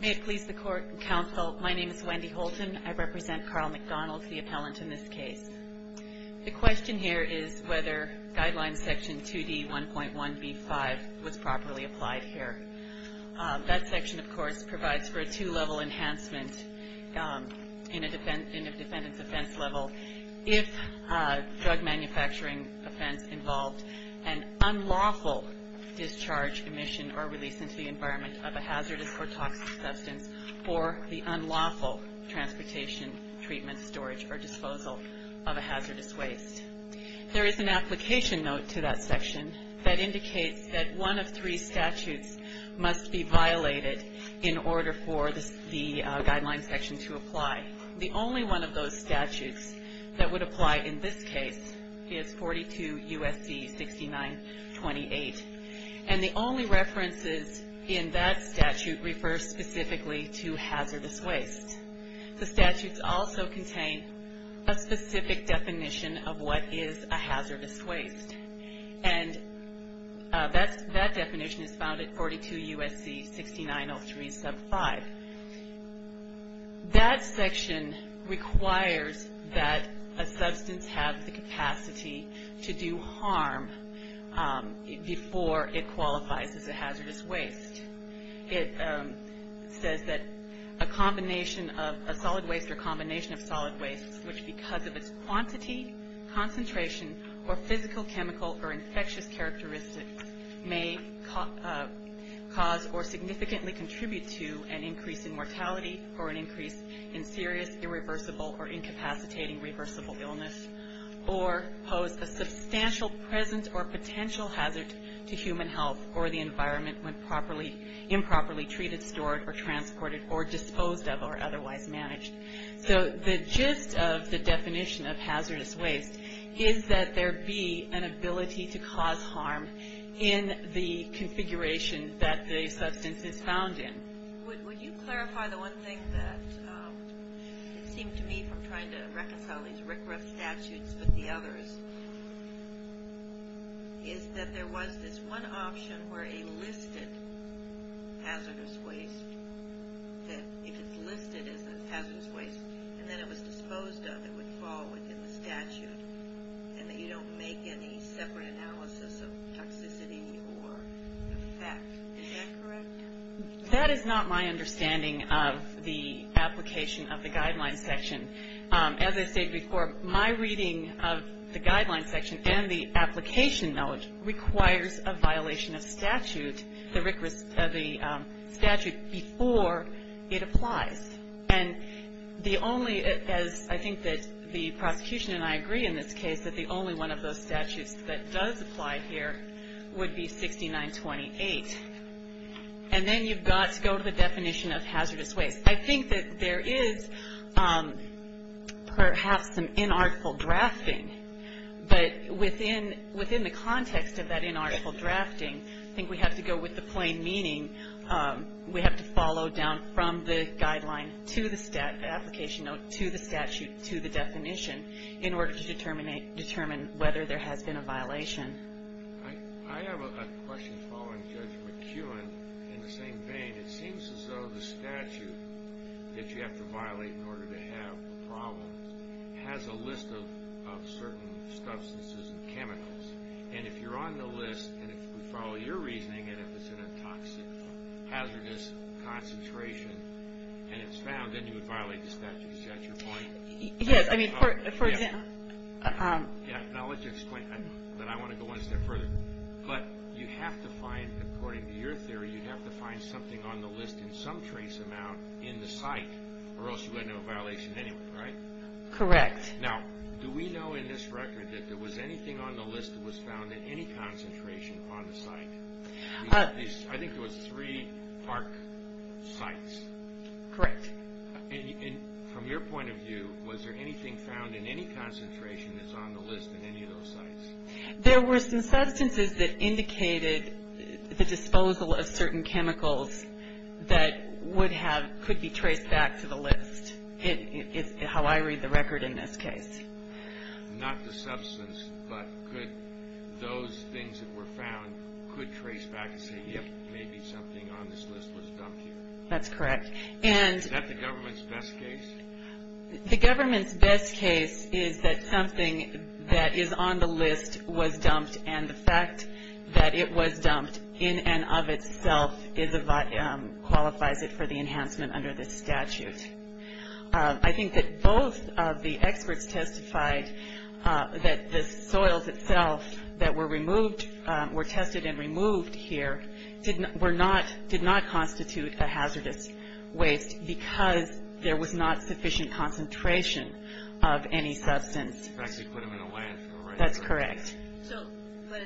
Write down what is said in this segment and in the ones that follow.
May it please the court and counsel, my name is Wendy Holton. I represent Carl MacDonald, the appellant in this case. The question here is whether guideline section 2D1.1b5 was properly applied here. That section, of course, provides for a two-level enhancement in a defendant's offense level if a drug manufacturing offense involved an unlawful discharge, emission, or release into the environment of a hazardous or toxic substance or the unlawful transportation, treatment, storage, or disposal of a hazardous waste. There is an application note to that section that indicates that one of three statutes must be violated in order for the guideline section to apply. The only one of those statutes that would apply in this case is 42 U.S.C. 6928. And the only references in that statute refer specifically to hazardous waste. The statutes also contain a specific definition of what is a hazardous waste. And that definition is found at 42 U.S.C. 6903 sub 5. That section requires that a substance have the capacity to do harm before it qualifies as a hazardous waste. It says that a combination of a solid waste or combination of solid wastes, which because of its quantity, concentration, or physical, chemical, or infectious characteristics may cause or significantly contribute to an increase in mortality or an increase in serious irreversible or incapacitating reversible illness or pose a substantial presence or potential hazard to human health or the environment when improperly treated, stored, or transported, or disposed of, or otherwise managed. So the gist of the definition of hazardous waste is that there be an ability to cause harm in the configuration that the substance is found in. Would you clarify the one thing that it seemed to me from trying to reconcile these RCRAF statutes with the others is that there was this one option where a listed hazardous waste, that if it's listed as a hazardous waste and then it was disposed of, it would fall within the statute and that you don't make any separate analysis of toxicity or effect. Is that correct? That is not my understanding of the application of the Guidelines section. As I said before, my reading of the Guidelines section and the application note requires a violation of statute, the statute, before it applies. And the only, as I think that the prosecution and I agree in this case, that the only one of those statutes that does apply here would be 6928. And then you've got to go to the definition of hazardous waste. I think that there is perhaps some inartful drafting, but within the context of that inartful drafting, I think we have to go with the plain meaning. We have to follow down from the Guideline to the application note, to the statute, to the definition, in order to determine whether there has been a violation. I have a question following Judge McKeown. In the same vein, it seems as though the statute that you have to violate in order to have a problem has a list of certain substances and chemicals. And if you're on the list, and if we follow your reasoning, and if it's in a toxic, hazardous concentration and it's found, then you would violate the statute. Is that your point? Yes, I mean, for example. I'll let you explain, but I want to go one step further. But you have to find, according to your theory, you'd have to find something on the list in some trace amount in the site, or else you wouldn't have a violation anyway, right? Correct. Now, do we know in this record that there was anything on the list that was found in any concentration on the site? I think there was three park sites. Correct. And from your point of view, was there anything found in any concentration that's on the list in any of those sites? There were some substances that indicated the disposal of certain chemicals that could be traced back to the list. It's how I read the record in this case. Not the substance, but those things that were found could trace back and say, yep, maybe something on this list was dumped here. That's correct. Is that the government's best case? The government's best case is that something that is on the list was dumped, and the fact that it was dumped in and of itself qualifies it for the enhancement under this statute. I think that both of the experts testified that the soils itself that were removed, which were tested and removed here, did not constitute a hazardous waste because there was not sufficient concentration of any substance. Actually put them in a landfill, right? That's correct. But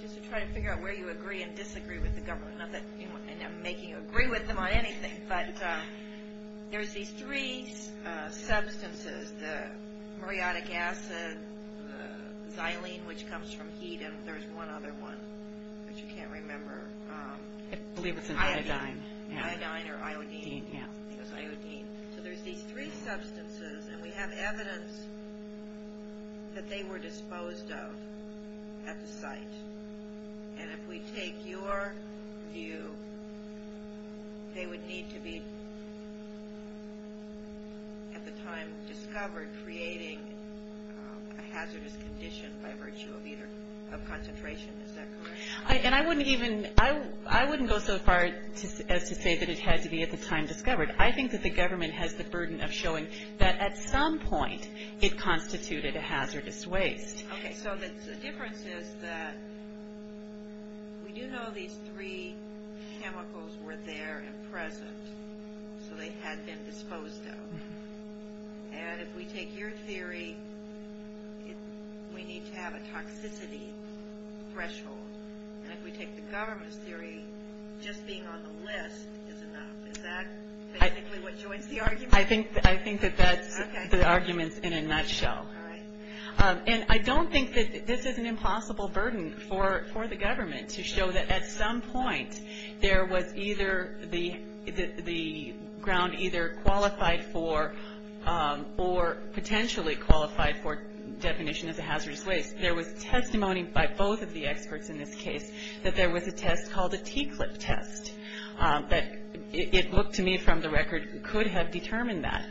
just to try to figure out where you agree and disagree with the government, not that I'm making you agree with them on anything, but there's these three substances, the muriatic acid, the xylene, which comes from heat, and there's one other one that you can't remember. I believe it's iodine. Iodine or iodine. Iodine, yeah. So there's these three substances, and we have evidence that they were disposed of at the site. And if we take your view, they would need to be at the time discovered, creating a hazardous condition by virtue of either of concentration. Is that correct? And I wouldn't go so far as to say that it had to be at the time discovered. I think that the government has the burden of showing that at some point it constituted a hazardous waste. Okay. So the difference is that we do know these three chemicals were there and present, so they had been disposed of. And if we take your theory, we need to have a toxicity threshold. And if we take the government's theory, just being on the list is enough. Is that basically what joins the argument? All right. And I don't think that this is an impossible burden for the government, to show that at some point there was either the ground either qualified for or potentially qualified for definition as a hazardous waste. There was testimony by both of the experts in this case that there was a test called a T-clip test, that it looked to me from the record could have determined that.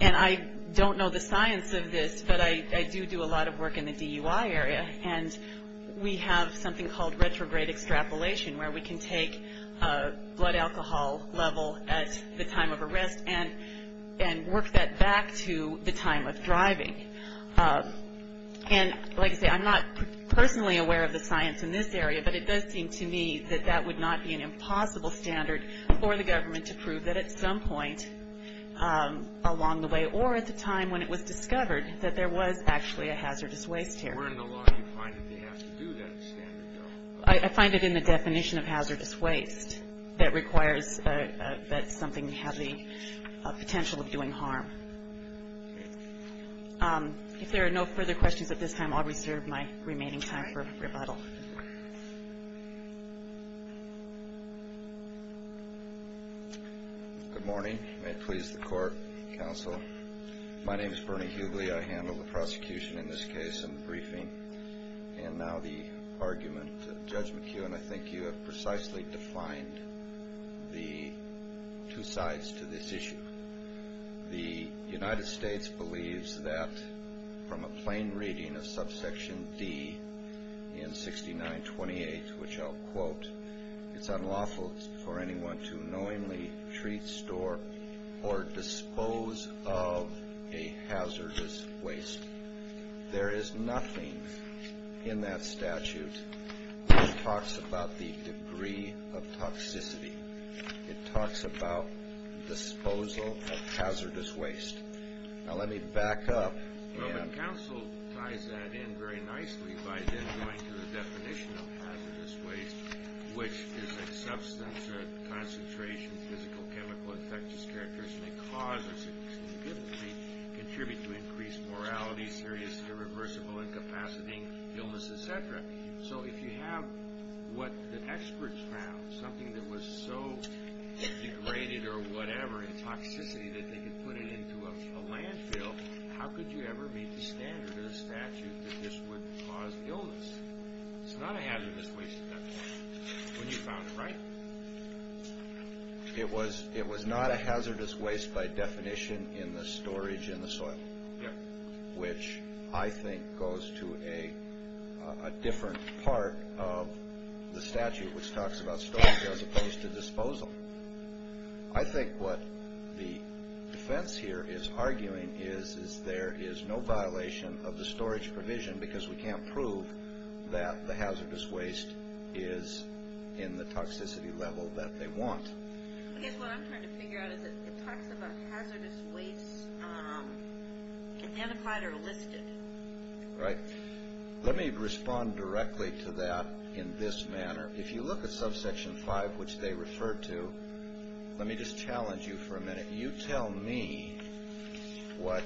And I don't know the science of this, but I do do a lot of work in the DUI area, and we have something called retrograde extrapolation, where we can take blood alcohol level at the time of arrest and work that back to the time of driving. And like I say, I'm not personally aware of the science in this area, but it does seem to me that that would not be an impossible standard for the government to prove that at some point along the way or at the time when it was discovered that there was actually a hazardous waste here. Where in the law do you find that they have to do that standard though? I find it in the definition of hazardous waste, that requires that something have the potential of doing harm. If there are no further questions at this time, I'll reserve my remaining time for rebuttal. Good morning. May it please the court, counsel. My name is Bernie Hughley. I handle the prosecution in this case and the briefing. And now the argument. Judge McKeown, I think you have precisely defined the two sides to this issue. The United States believes that from a plain reading of subsection D in 6928, which I'll quote, it's unlawful for anyone to knowingly treat, store, or dispose of a hazardous waste. There is nothing in that statute that talks about the degree of toxicity. It talks about disposal of hazardous waste. Now let me back up. Well, but counsel ties that in very nicely by then going to the definition of hazardous waste, which is a substance, a concentration, physical, chemical, infectious characteristics, may cause or significantly contribute to increased morality, serious irreversible incapacity, illness, etc. So if you have what the experts found, something that was so degraded or whatever, a toxicity that they could put it into a landfill, how could you ever meet the standard of the statute that this would cause illness? It's not a hazardous waste at that point when you found it, right? It was not a hazardous waste by definition in the storage in the soil, which I think goes to a different part of the statute which talks about storage as opposed to disposal. I think what the defense here is arguing is there is no violation of the storage provision because we can't prove that the hazardous waste is in the toxicity level that they want. I guess what I'm trying to figure out is it talks about hazardous waste identified or listed. Right? Let me respond directly to that in this manner. If you look at subsection 5, which they referred to, let me just challenge you for a minute. You tell me what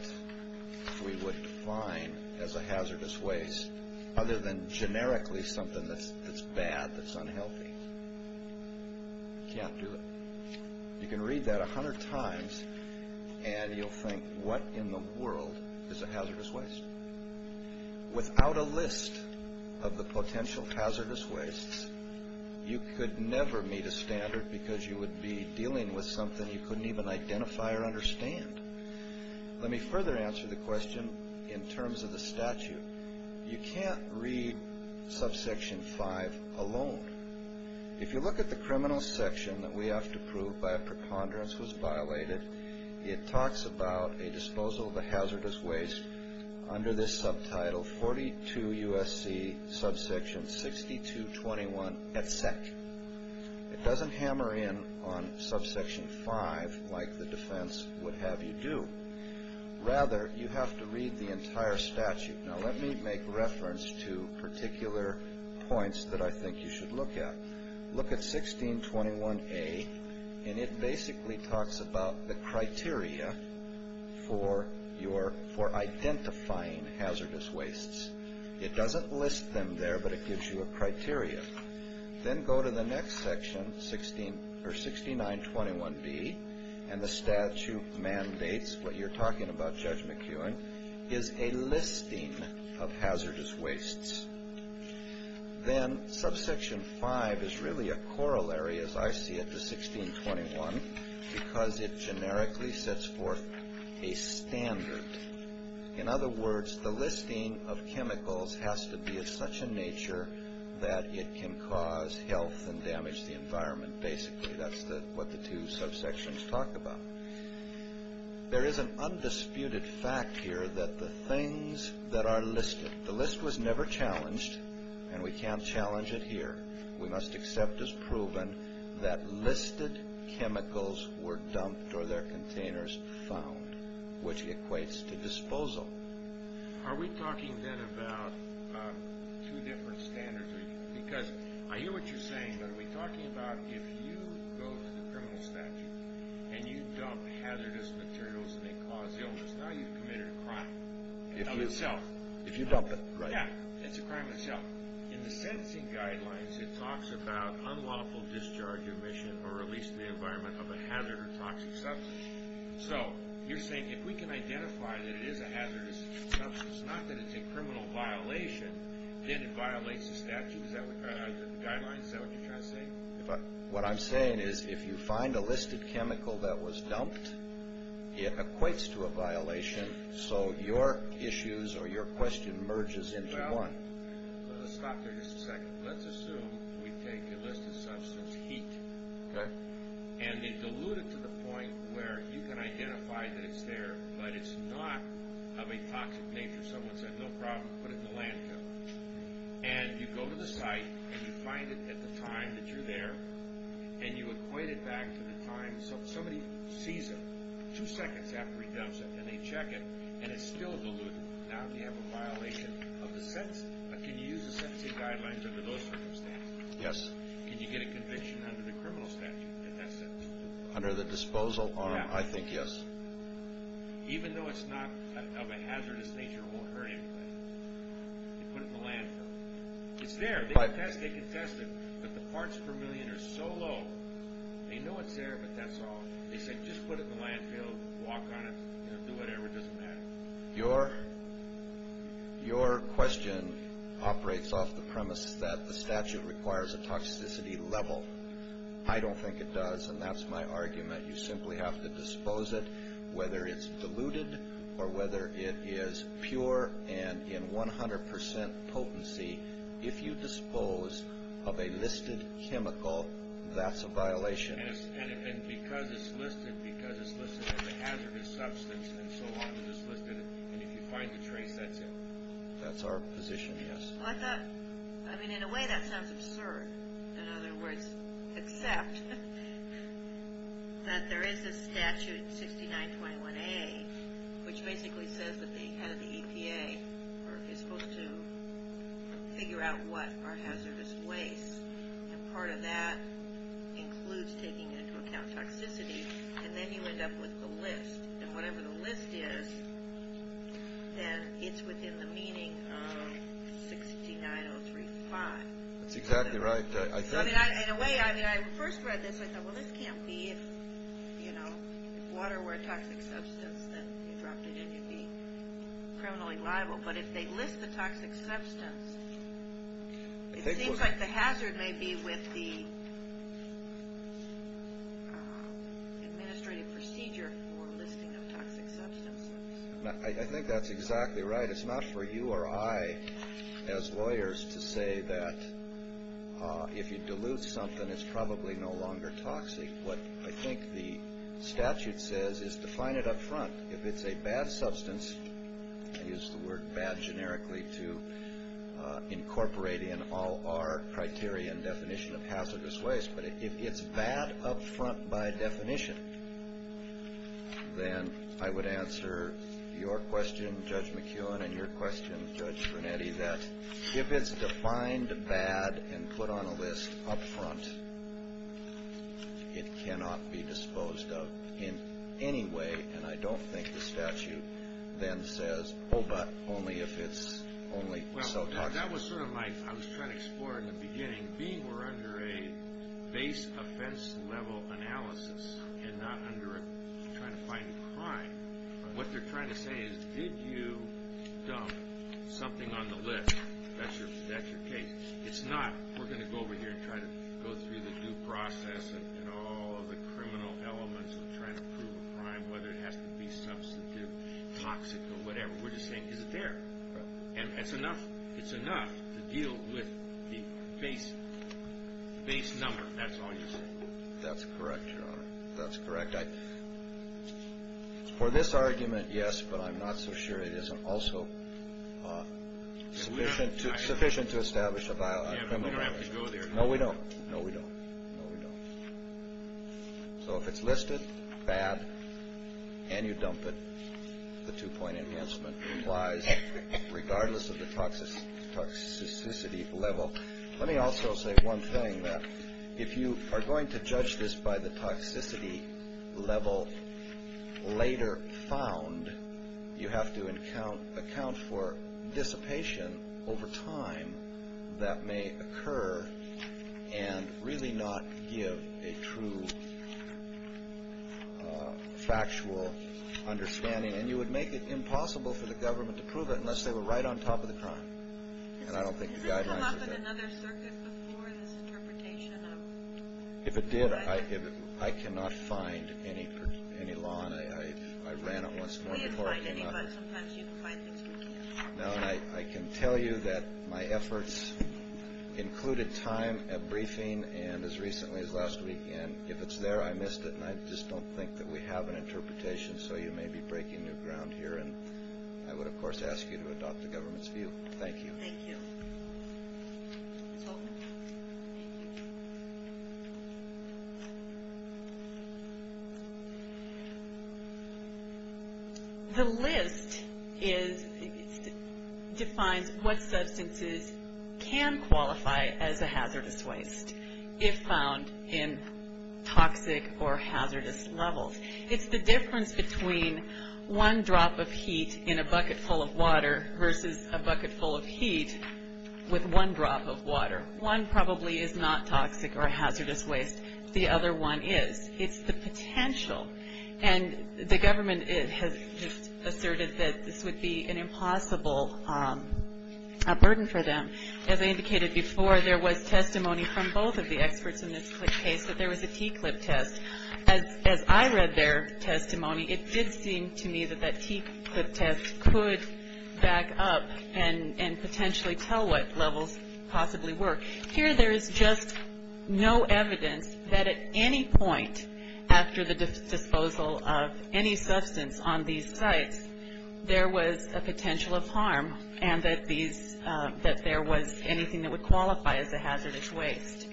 we would define as a hazardous waste other than generically something that's bad, that's unhealthy. You can't do it. You can read that 100 times and you'll think, what in the world is a hazardous waste? Without a list of the potential hazardous wastes, you could never meet a standard because you would be dealing with something you couldn't even identify or understand. Let me further answer the question in terms of the statute. You can't read subsection 5 alone. If you look at the criminal section that we have to prove by a preponderance was violated, it talks about a disposal of a hazardous waste under this subtitle 42 U.S.C. subsection 6221 et sec. It doesn't hammer in on subsection 5 like the defense would have you do. Rather, you have to read the entire statute. Now, let me make reference to particular points that I think you should look at. Look at 1621A, and it basically talks about the criteria for identifying hazardous wastes. It doesn't list them there, but it gives you a criteria. Then go to the next section, 6921B, and the statute mandates what you're talking about, Judge McKeown, is a listing of hazardous wastes. Then subsection 5 is really a corollary, as I see it, to 1621 because it generically sets forth a standard. In other words, the listing of chemicals has to be of such a nature that it can cause health and damage the environment. Basically, that's what the two subsections talk about. There is an undisputed fact here that the things that are listed, the list was never challenged, and we can't challenge it here. We must accept as proven that listed chemicals were dumped or their containers found, which equates to disposal. Are we talking then about two different standards? Because I hear what you're saying, but are we talking about if you go to the criminal statute and you dump hazardous materials and they cause illness, now you've committed a crime in and of itself. If you dump it, right. Yeah, it's a crime in itself. In the sentencing guidelines, it talks about unlawful discharge, emission, or release to the environment of a hazard or toxic substance. So you're saying if we can identify that it is a hazardous substance, not that it's a criminal violation, then it violates the statute? Is that what the guidelines, is that what you're trying to say? What I'm saying is if you find a listed chemical that was dumped, it equates to a violation, so your issues or your question merges into one. Well, let's stop there just a second. Let's assume we take a list of substance, heat. Okay. And they dilute it to the point where you can identify that it's there, but it's not of a toxic nature. Someone said no problem, put it in the landfill. And you go to the site and you find it at the time that you're there, and you equate it back to the time. Somebody sees it two seconds after he dumps it, and they check it, and it's still diluted. Now we have a violation of the sentencing. Can you use the sentencing guidelines under those circumstances? Yes. Can you get a conviction under the criminal statute in that sense? Under the disposal, I think yes. Even though it's not of a hazardous nature, it won't hurt anybody. You put it in the landfill. It's there. They can test it. But the parts per million are so low. They know it's there, but that's all. They say just put it in the landfill, walk on it, do whatever, it doesn't matter. Your question operates off the premise that the statute requires a toxicity level. I don't think it does, and that's my argument. You simply have to dispose it, whether it's diluted or whether it is pure and in 100% potency. If you dispose of a listed chemical, that's a violation. And because it's listed, because it's listed as a hazardous substance, and so long as it's listed, and if you find the trace, that's it. That's our position, yes. I mean, in a way, that sounds absurd. In other words, except that there is a statute, 6921A, which basically says that the EPA is supposed to figure out what are hazardous wastes, and part of that includes taking into account toxicity, and then you end up with the list. And whatever the list is, then it's within the meaning of 69035. That's exactly right. In a way, when I first read this, I thought, well, this can't be. If water were a toxic substance, then you drop it in, you'd be criminally liable. But if they list the toxic substance, it seems like the hazard may be with the administrative procedure for listing of toxic substances. I think that's exactly right. It's not for you or I as lawyers to say that if you dilute something, it's probably no longer toxic. What I think the statute says is define it up front. If it's a bad substance, I use the word bad generically to incorporate in all our criteria and definition of hazardous waste, but if it's bad up front by definition, then I would answer your question, Judge McKeown, and your question, Judge Brunetti, that if it's defined bad and put on a list up front, it cannot be disposed of in any way, and I don't think the statute then says, oh, but only if it's only self-toxic. That was sort of like I was trying to explore in the beginning. We're under a base offense level analysis and not under trying to find a crime. What they're trying to say is did you dump something on the list? That's your case. It's not we're going to go over here and try to go through the due process and all of the criminal elements of trying to prove a crime, whether it has to be substantive, toxic, or whatever. We're just saying is it there? It's enough to deal with the base number. That's all you're saying. That's correct, Your Honor. That's correct. For this argument, yes, but I'm not so sure it is also sufficient to establish a criminal record. We don't have to go there. No, we don't. No, we don't. No, we don't. So if it's listed, bad, and you dump it, the two-point enhancement applies regardless of the toxicity level. Let me also say one thing, that if you are going to judge this by the toxicity level later found, you have to account for dissipation over time that may occur and really not give a true factual understanding, and you would make it impossible for the government to prove it unless they were right on top of the crime, and I don't think the guidelines are there. Did it come up in another circuit before this interpretation? If it did, I cannot find any law. I ran it once more before. We didn't find any, but sometimes you can find things we can't. No, and I can tell you that my efforts included time, a briefing, and as recently as last week, and if it's there, I missed it, and I just don't think that we have an interpretation, so you may be breaking new ground here, and I would, of course, ask you to adopt the government's view. Thank you. Thank you. Ms. Holtman. Thank you. The list defines what substances can qualify as a hazardous waste if found in toxic or hazardous levels. It's the difference between one drop of heat in a bucket full of water versus a bucket full of heat with one drop of water. One probably is not toxic or hazardous waste. The other one is. It's the potential, and the government has just asserted that this would be an impossible burden for them. As I indicated before, there was testimony from both of the experts in this case that there was a T-clip test. As I read their testimony, it did seem to me that that T-clip test could back up and potentially tell what levels possibly were. Here there is just no evidence that at any point after the disposal of any substance on these sites, there was a potential of harm and that there was anything that would qualify as a hazardous waste.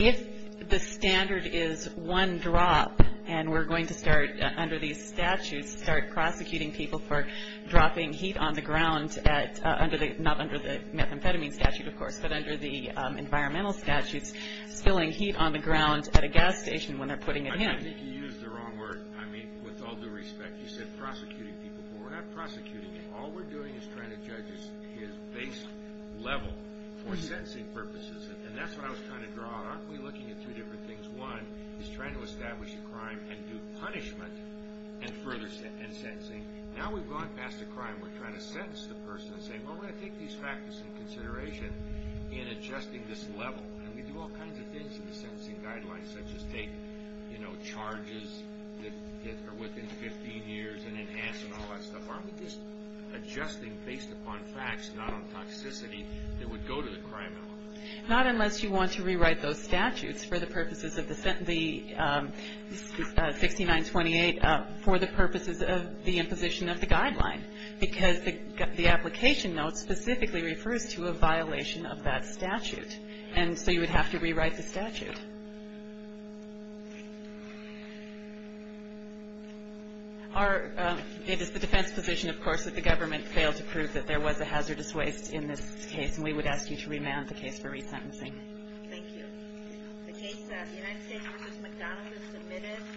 If the standard is one drop, and we're going to start under these statutes, start prosecuting people for dropping heat on the ground, not under the methamphetamine statute, of course, but under the environmental statutes, spilling heat on the ground at a gas station when they're putting it in. I think you used the wrong word. I mean, with all due respect, you said prosecuting people. But we're not prosecuting him. All we're doing is trying to judge his base level for sentencing purposes. And that's what I was trying to draw on. Aren't we looking at two different things? One is trying to establish a crime and do punishment and further sentencing. Now we've gone past the crime. We're trying to sentence the person and say, well, we're going to take these factors into consideration in adjusting this level. And we do all kinds of things in the sentencing guidelines, such as take charges that are within 15 years and enhance and all that stuff. Aren't we just adjusting based upon facts, not on toxicity, that would go to the crime element? Not unless you want to rewrite those statutes for the purposes of the 6928, for the purposes of the imposition of the guideline, because the application note specifically refers to a violation of that statute. And so you would have to rewrite the statute. It is the defense position, of course, that the government failed to prove that there was a hazardous waste in this case, and we would ask you to remand the case for resentencing. Thank you. The case of the United States v. McDonald is submitted.